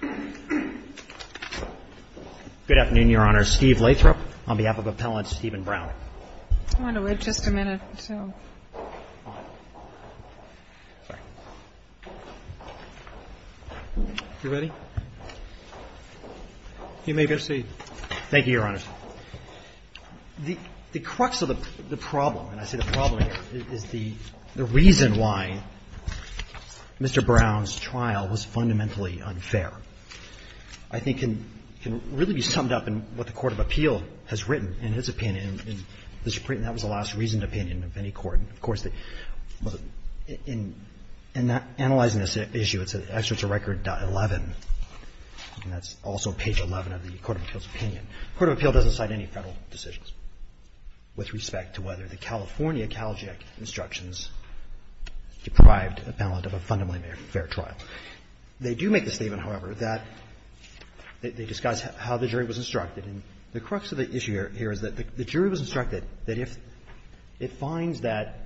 Good afternoon, Your Honor. Steve Lathrop on behalf of Appellant Stephen Brown. I want to wait just a minute or so. All right. Sorry. You ready? You may proceed. Thank you, Your Honor. The crux of the problem, and I say the problem here, is the reason why Mr. Brown's trial was fundamentally unfair. I think it can really be summed up in what the Court of Appeal has written in its opinion. And that was the last reasoned opinion of any court. Of course, in analyzing this issue, it's at Excerpts of Record.11, and that's also page 11 of the Court of Appeal's opinion. The Court of Appeal doesn't cite any Federal decisions with respect to whether the California CalJEC instructions deprived an appellant of a fundamentally fair trial. They do make the statement, however, that they discuss how the jury was instructed. And the crux of the issue here is that the jury was instructed that if it finds that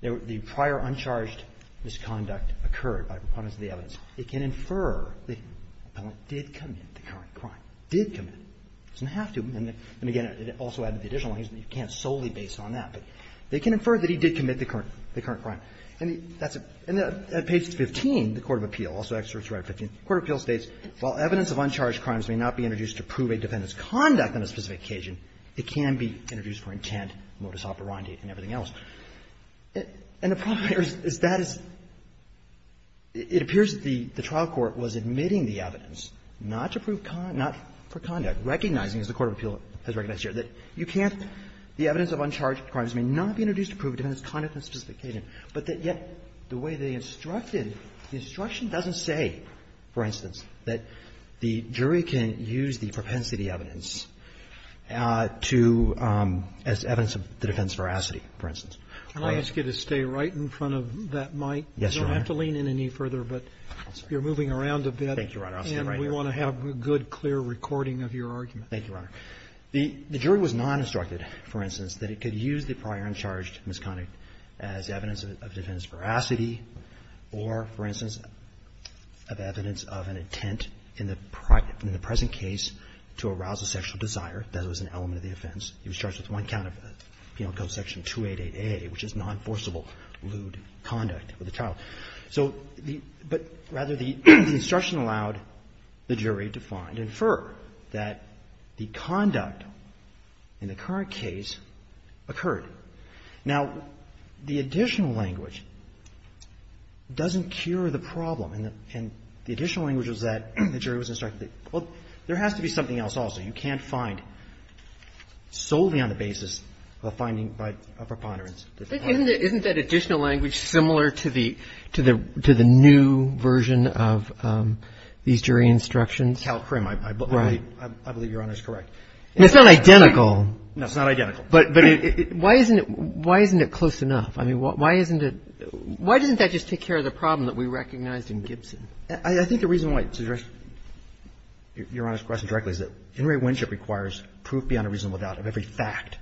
the prior uncharged misconduct occurred by proponents of the evidence, it can infer that the appellant did commit the current crime, did commit it. It doesn't have to. And again, it also added the additional language that you can't solely base it on that. But they can infer that he did commit the current crime. And at page 15, the Court of Appeal, also Excerpts of Record 15, the Court of Appeal states, while evidence of uncharged crimes may not be introduced to prove a defendant's conduct on a specific occasion, it can be introduced for intent, modus operandi, and everything else. And the problem here is that it appears that the trial court was admitting the evidence, not for conduct, recognizing, as the Court of Appeal has recognized here, that you cannot be introduced to prove a defendant's conduct on a specific occasion, but that yet the way they instructed, the instruction doesn't say, for instance, that the jury can use the propensity evidence to as evidence of the defendant's veracity, for instance. Roberts. Sotomayor, I'll ask you to stay right in front of that mic. Yes, Your Honor. You don't have to lean in any further, but you're moving around a bit. Thank you, Your Honor. I'll stand right here. And we want to have a good, clear recording of your argument. Thank you, Your Honor. The jury was non-instructed, for instance, that it could use the prior uncharged misconduct as evidence of defendant's veracity or, for instance, of evidence of an intent in the present case to arouse a sexual desire. That was an element of the offense. He was charged with one count of Penal Code Section 288A, which is non-forcible lewd conduct with a child. So the – but rather the instruction allowed the jury to find and infer that the conduct in the current case occurred. Now, the additional language doesn't cure the problem. And the additional language was that the jury was instructed that, well, there has to be something else also. You can't find solely on the basis of a finding by a preponderance. Isn't that additional language similar to the – to the new version of these jury instructions? Cal CRIM. Right. I believe Your Honor is correct. It's not identical. No, it's not identical. But why isn't it close enough? I mean, why isn't it – why doesn't that just take care of the problem that we recognized in Gibson? I think the reason why it's addressed, Your Honor's question directly, is that Henry Winship requires proof beyond a reasonable doubt of every fact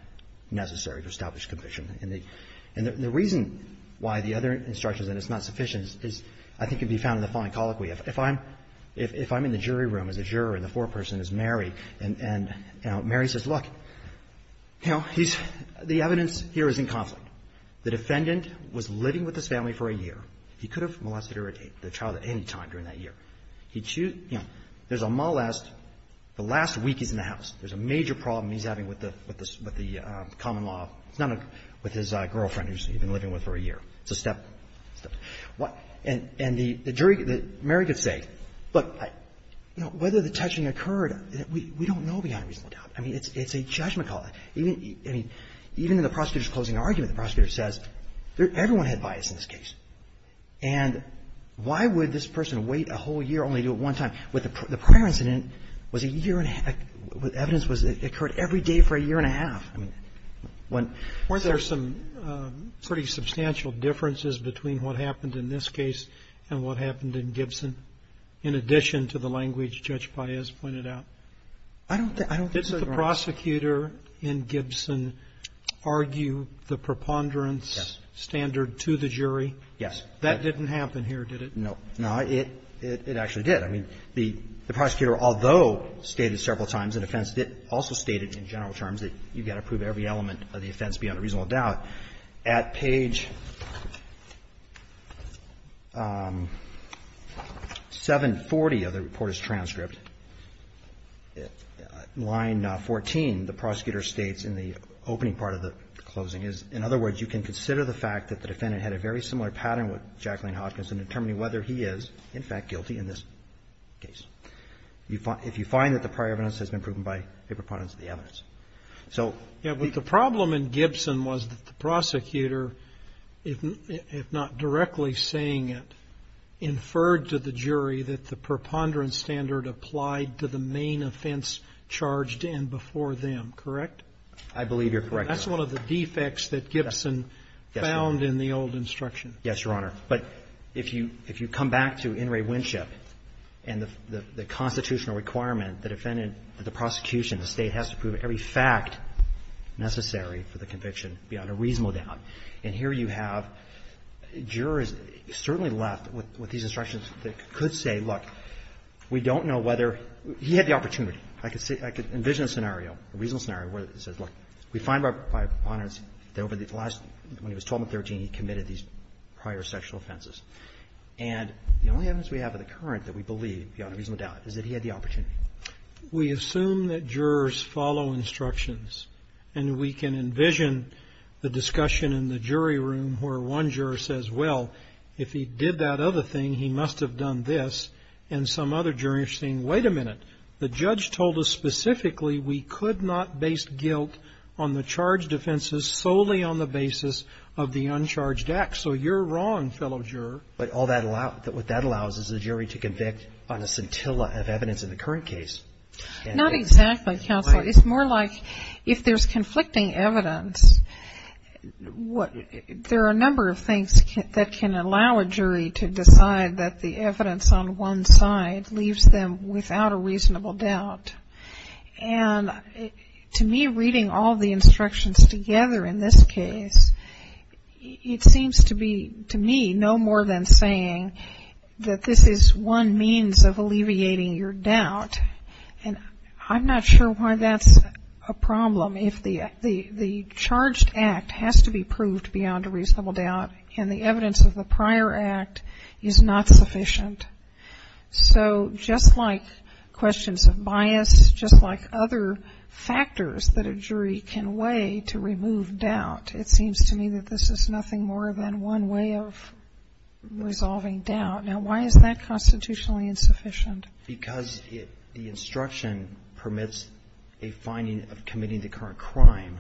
necessary to establish conviction. And the reason why the other instruction is that it's not sufficient is, I think, can be found in the fine colloquy. If I'm in the jury room as a juror and the foreperson is Mary, and, you know, Mary says, look, you know, he's – the evidence here is in conflict. The defendant was living with this family for a year. He could have molested or raped the child at any time during that year. He'd choose – you know, there's a molest. The last week he's in the house. There's a major problem he's having with the common law. It's not with his girlfriend who he's been living with for a year. It's a step. And the jury – Mary could say, look, you know, whether the touching occurred, we don't know beyond a reasonable doubt. I mean, it's a judgment call. I mean, even in the prosecutor's closing argument, the prosecutor says, everyone had bias in this case. And why would this person wait a whole year only to do it one time? The prior incident was a year and a half – evidence occurred every day for a year and a half. I mean, when – Weren't there some pretty substantial differences between what happened in this case and what happened in Gibson in addition to the language Judge Paez pointed out? I don't think – I don't think so, Your Honor. Didn't the prosecutor in Gibson argue the preponderance standard to the jury? Yes. That didn't happen here, did it? No. No. It actually did. I mean, the prosecutor, although stated several times in offense, also stated in general terms that you've got to prove every element of the offense beyond a reasonable doubt, at page 740 of the reporter's transcript, line 14, the prosecutor states in the opening part of the closing is, in other words, you can consider the fact that the defendant had a very similar pattern with Jacqueline Hopkins in determining whether he is, in fact, guilty in this case. If you find that the prior evidence has been proven by a preponderance standard, then you have to go back to the evidence. Yeah, but the problem in Gibson was that the prosecutor, if not directly saying it, inferred to the jury that the preponderance standard applied to the main offense charged in before them, correct? I believe you're correct, Your Honor. That's one of the defects that Gibson found in the old instruction. Yes, Your Honor. But if you come back to In re Winship and the constitutional requirement, the defendant, the prosecution, the State has to prove every fact necessary for the conviction beyond a reasonable doubt. And here you have jurors certainly left with these instructions that could say, look, we don't know whether he had the opportunity. I could envision a scenario, a reasonable scenario where it says, look, we find by preponderance that over the last, when he was 12 and 13, he committed these prior sexual offenses. We assume that jurors follow instructions. And we can envision the discussion in the jury room where one juror says, well, if he did that other thing, he must have done this. And some other jurors are saying, wait a minute. The judge told us specifically we could not base guilt on the charged offenses solely on the basis of the uncharged act. So you're wrong, fellow juror. But what that allows is a jury to convict on a scintilla of evidence in the current case. Not exactly, counsel. It's more like if there's conflicting evidence, there are a number of things that can allow a jury to decide that the evidence on one side leaves them without a reasonable doubt. And to me, reading all the instructions together in this case, it seems to me no more than saying that this is one means of alleviating your doubt. And I'm not sure why that's a problem if the charged act has to be proved beyond a reasonable doubt and the evidence of the prior act is not sufficient. So just like questions of bias, just like other factors that a jury can weigh to remove doubt, it seems to me that this is nothing more than one way of resolving doubt. Now, why is that constitutionally insufficient? Because the instruction permits a finding of committing the current crime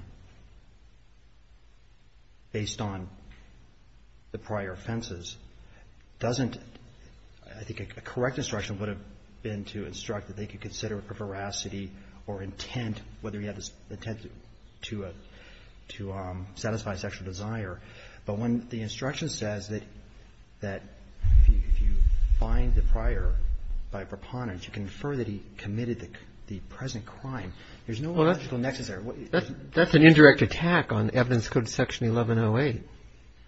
based on the prior offenses doesn't, I think a correct instruction would have been to instruct that they could consider a veracity or intent, whether you have this intent to satisfy sexual desire. But when the instruction says that if you find the prior by a preponderance, you can infer that he committed the present crime. There's no logical nexus there. That's an indirect attack on evidence code section 1108.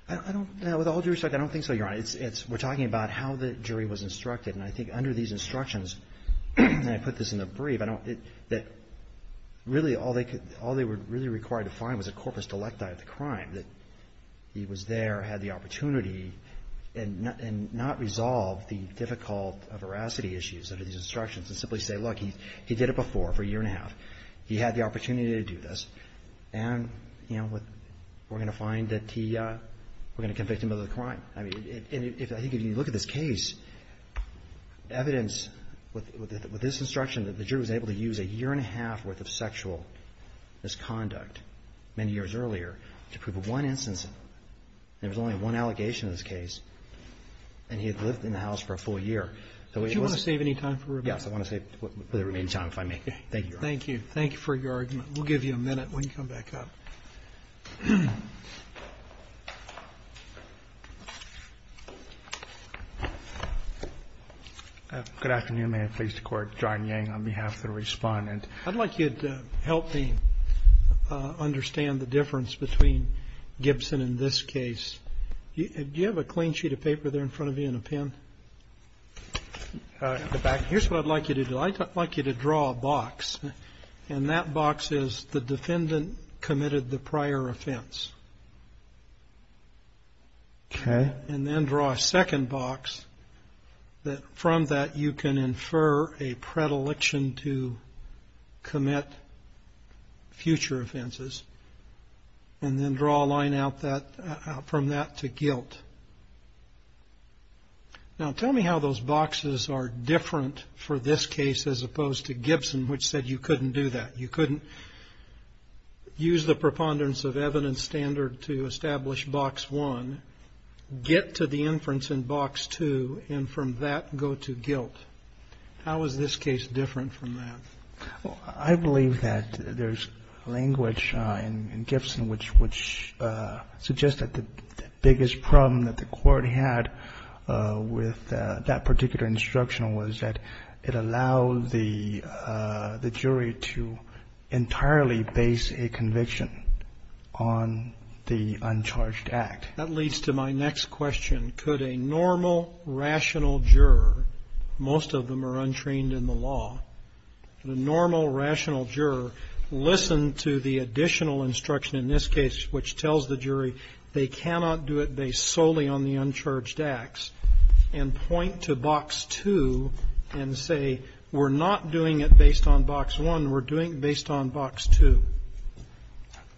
I don't know. With all due respect, I don't think so, Your Honor. We're talking about how the jury was instructed. And I think under these instructions, and I put this in the brief, that really all they were really required to find was a corpus delecti of the crime, that he was there, had the opportunity, and not resolve the difficult veracity issues under these instructions and simply say, look, he did it before for a year and a half. He had the opportunity to do this. And, you know, we're going to find that we're going to convict him of the crime. I mean, I think if you look at this case, evidence with this instruction that the jury was able to use a year and a half worth of sexual misconduct many years earlier to prove one instance. There was only one allegation in this case. And he had lived in the house for a full year. Do you want to save any time for rebuttal? Yes, I want to save the remaining time if I may. Thank you, Your Honor. Thank you. Thank you for your argument. We'll give you a minute when you come back up. Good afternoon. May it please the Court. John Yang on behalf of the respondent. I'd like you to help me understand the difference between Gibson and this case. Do you have a clean sheet of paper there in front of you and a pen? Here's what I'd like you to do. I'd like you to draw a box. And that box is the defendant committed the prior offense. Okay. And then draw a second box. From that, you can infer a predilection to commit future offenses. And then draw a line out from that to guilt. Now, tell me how those boxes are different for this case as opposed to Gibson, which said you couldn't do that. You couldn't use the preponderance of evidence standard to establish box one, get to the inference in box two, and from that, go to guilt. How is this case different from that? I believe that there's language in Gibson which suggests that the biggest problem that the court had with that particular instruction was that it allowed the jury to entirely base a conviction on the uncharged act. That leads to my next question. Could a normal, rational juror, most of them are untrained in the law, the normal, rational juror listen to the additional instruction in this case, which tells the jury they cannot do it based solely on the uncharged acts, and point to box two and say we're not doing it based on box one, we're doing it based on box two?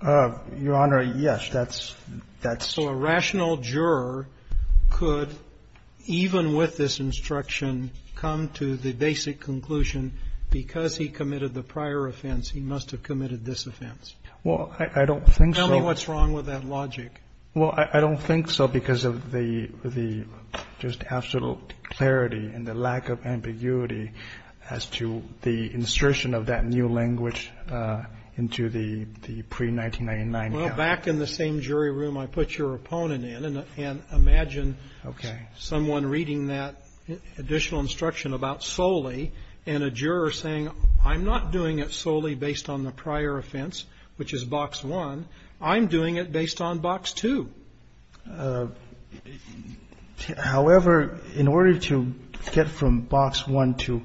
Your Honor, yes. That's the rational juror could, even with this instruction, come to the basic conclusion because he committed the prior offense, he must have committed this offense. Well, I don't think so. Tell me what's wrong with that logic. Well, I don't think so because of the just absolute clarity and the lack of ambiguity as to the insertion of that new language into the pre-1999. Well, back in the same jury room I put your opponent in, and imagine someone reading that additional instruction about solely and a juror saying I'm not doing it solely based on the prior offense, which is box one, I'm doing it based on box two. However, in order to get from box one to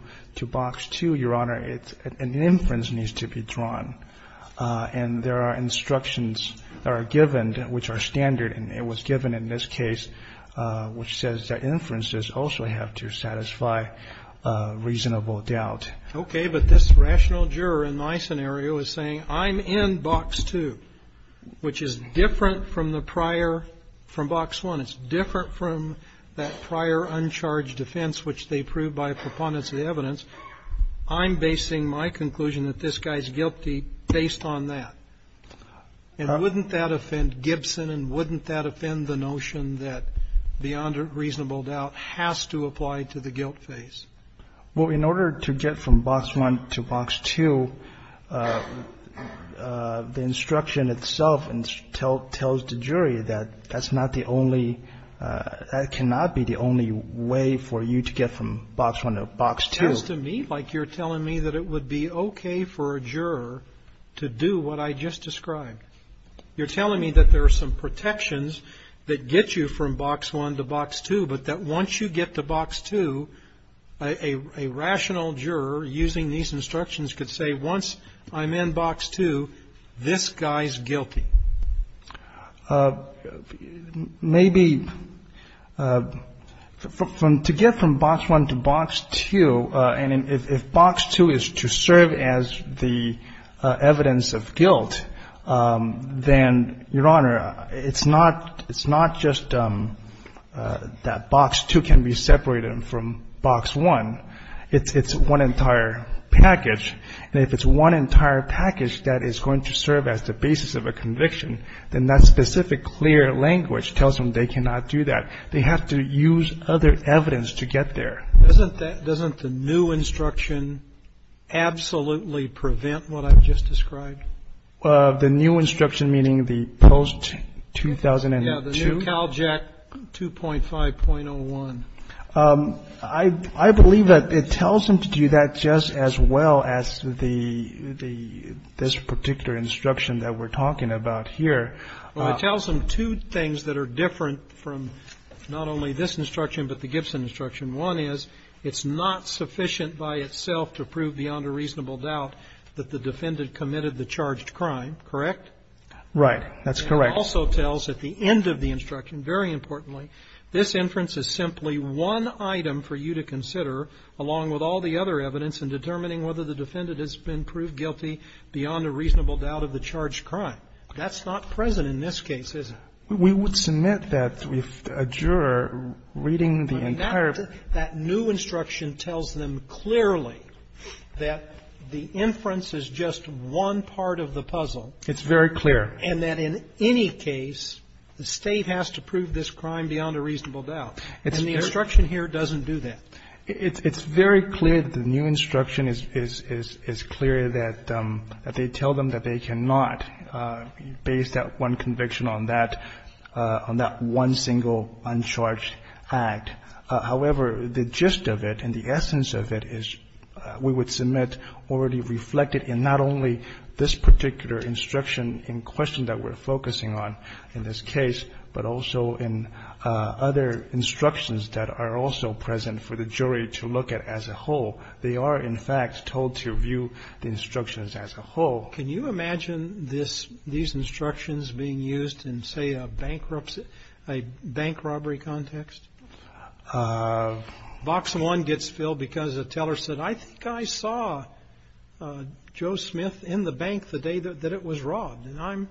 box two, Your Honor, an inference needs to be drawn, and there are instructions that are given which are standard, and it was given in this case which says that inferences also have to satisfy reasonable doubt. Okay. But this rational juror in my scenario is saying I'm in box two, which is different from the prior, from box one. It's different from that prior uncharged offense which they proved by preponderance of the evidence. I'm basing my conclusion that this guy's guilty based on that. And wouldn't that offend Gibson, and wouldn't that offend the notion that beyond reasonable doubt has to apply to the guilt phase? Well, in order to get from box one to box two, the instruction itself tells the jury that that's not the only ñ that cannot be the only way for you to get from box one to box two. It sounds to me like you're telling me that it would be okay for a juror to do what I just described. You're telling me that there are some protections that get you from box one to box two, but that once you get to box two, a rational juror using these instructions could say once I'm in box two, this guy's guilty. Maybe from ñ to get from box one to box two, and if box two is to serve as the evidence of guilt, then, Your Honor, it's not just that box two can be separated from box one. It's one entire package. And if it's one entire package that is going to serve as the basis of a conviction, then that specific clear language tells them they cannot do that. They have to use other evidence to get there. Doesn't that ñ doesn't the new instruction absolutely prevent what I've just described? The new instruction, meaning the post-2002? Yeah, the new CALJAC 2.5.01. I believe that it tells them to do that just as well as the ñ this particular instruction that we're talking about here. Well, it tells them two things that are different from not only this instruction but the Gibson instruction. One is it's not sufficient by itself to prove beyond a reasonable doubt that the defendant committed the charged crime, correct? Right. That's correct. It also tells at the end of the instruction, very importantly, this inference is simply one item for you to consider along with all the other evidence in determining whether the defendant has been proved guilty beyond a reasonable doubt of the charged crime. That's not present in this case, is it? We would submit that with a juror reading the entire ñ But that new instruction tells them clearly that the inference is just one part of the puzzle. It's very clear. And that in any case, the State has to prove this crime beyond a reasonable doubt. And the instruction here doesn't do that. It's very clear. The new instruction is clear that they tell them that they cannot, based on one conviction on that ñ on that one single uncharged act. However, the gist of it and the essence of it is we would submit already reflected in not only this particular instruction in question that we're focusing on in this case, but also in other instructions that are also present for the jury to look at as a whole. They are, in fact, told to view the instructions as a whole. Can you imagine this ñ these instructions being used in, say, a bankruptcy ñ a bank robbery context? Box 1 gets filled because a teller said, I think I saw Joe Smith in the bank the day that it was robbed. And I'm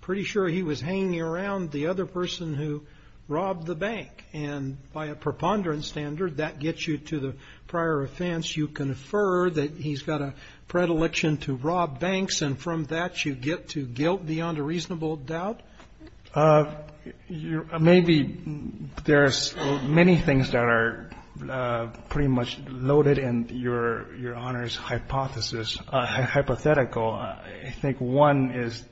pretty sure he was hanging around the other person who robbed the bank. And by a preponderance standard, that gets you to the prior offense. You confer that he's got a predilection to rob banks. And from that, you get to guilt beyond a reasonable doubt? Maybe there's many things that are pretty much loaded in Your Honor's hypothesis ñ hypothetical. I think one is ñ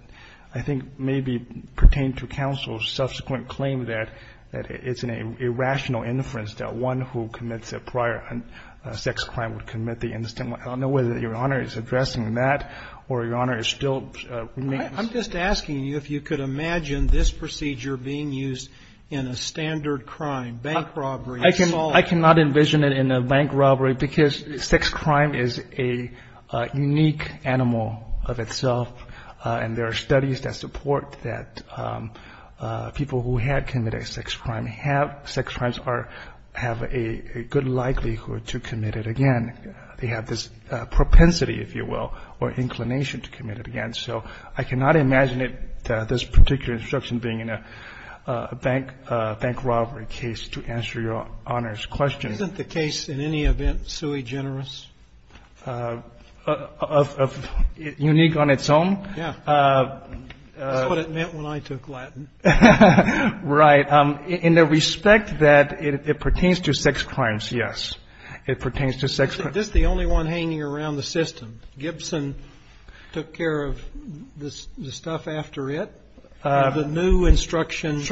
I think maybe pertain to counsel's subsequent claim that it's an irrational inference that one who commits a prior sex crime would commit the instant one. I don't know whether Your Honor is addressing that or Your Honor is still ñ I'm just asking you if you could imagine this procedure being used in a standard crime, bank robbery. I cannot envision it in a bank robbery because sex crime is a unique animal of itself, and there are studies that support that people who have committed a sex crime have a good likelihood to commit it again. They have this propensity, if you will, or inclination to commit it again. So I cannot imagine it, this particular instruction, being in a bank robbery case to answer Your Honor's question. Isn't the case in any event sui generis? Unique on its own? Yeah. That's what it meant when I took Latin. Right. In the respect that it pertains to sex crimes, yes. It pertains to sex crimes. This is the only one hanging around the system. Gibson took care of the stuff after it. The new instruction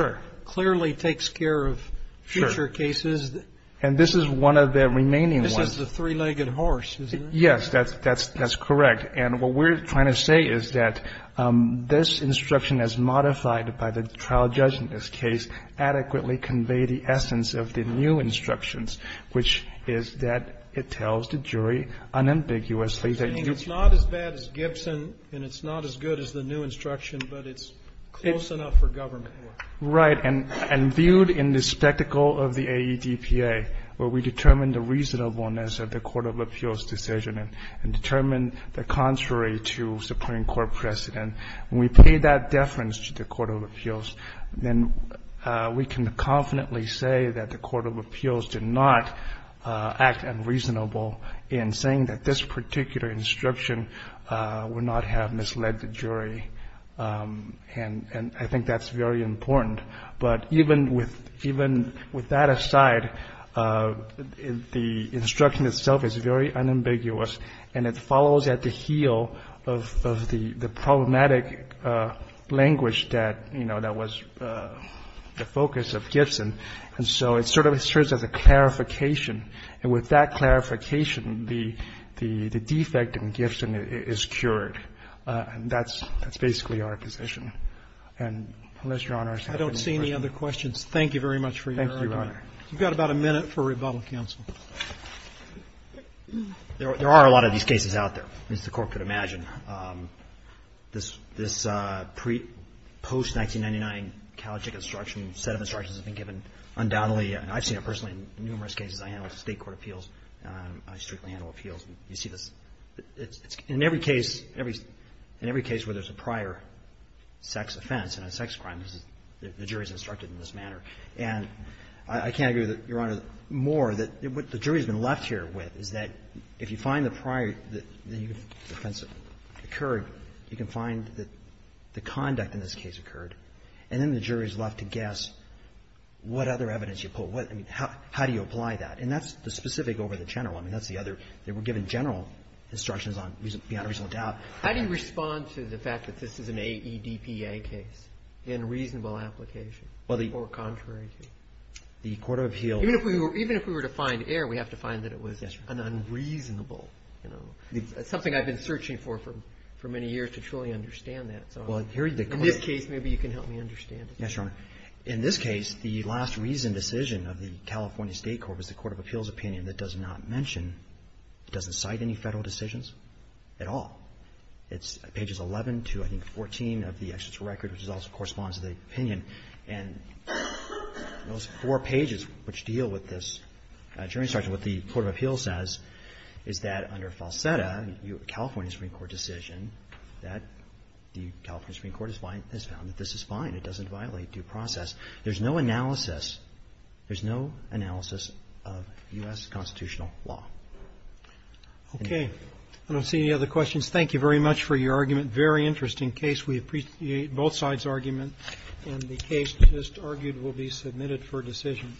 clearly takes care of future cases. Sure. And this is one of the remaining ones. This is the three-legged horse, isn't it? Yes. That's correct. And what we're trying to say is that this instruction, as modified by the trial judge in this case, adequately conveyed the essence of the new instructions, which is that it tells the jury unambiguously that It's not as bad as Gibson, and it's not as good as the new instruction, but it's close enough for government. Right. And viewed in the spectacle of the AEDPA, where we determine the reasonableness of the court of appeals decision and determine the contrary to Supreme Court precedent, when we pay that deference to the court of appeals, then we can confidently say that the court of appeals did not act unreasonable in saying that this particular instruction would not have misled the jury. And I think that's very important. But even with that aside, the instruction itself is very unambiguous, and it follows at the heel of the problematic language that, you know, that was the focus of Gibson. And so it sort of serves as a clarification. And with that clarification, the defect in Gibson is cured. And that's basically our position. And unless Your Honor is having any questions. I don't see any other questions. Thank you very much for your time. Thank you, Your Honor. You've got about a minute for rebuttal, counsel. There are a lot of these cases out there, as the Court could imagine. This pre-post-1999 CALJIC instruction set of instructions has been given undoubtedly, and I've seen it personally in numerous cases. I handle state court appeals. I strictly handle appeals. You see this. In every case where there's a prior sex offense and a sex crime, the jury is instructed in this manner. And I can't agree with Your Honor more that what the jury has been left here with is that if you find the prior that the offense occurred, you can find that the conduct in this case occurred. And then the jury is left to guess what other evidence you pull. I mean, how do you apply that? And that's the specific over the general. I mean, that's the other. They were given general instructions beyond a reasonable doubt. How do you respond to the fact that this is an AEDPA case in reasonable application or contrary to? The Court of Appeals. Even if we were to find error, we have to find that it was unreasonable. It's something I've been searching for for many years to truly understand that. In this case, maybe you can help me understand it. Yes, Your Honor. In this case, the last reasoned decision of the California State Court was the Court of Appeals does not mention, doesn't cite any Federal decisions at all. It's pages 11 to, I think, 14 of the executive record, which also corresponds to the opinion. And those four pages which deal with this jury instruction, what the Court of Appeals says is that under falseta, California Supreme Court decision, that the California Supreme Court has found that this is fine. It doesn't violate due process. There's no analysis. There's no analysis of U.S. constitutional law. Okay. I don't see any other questions. Thank you very much for your argument. Very interesting case. We appreciate both sides' argument. And the case just argued will be submitted for decision.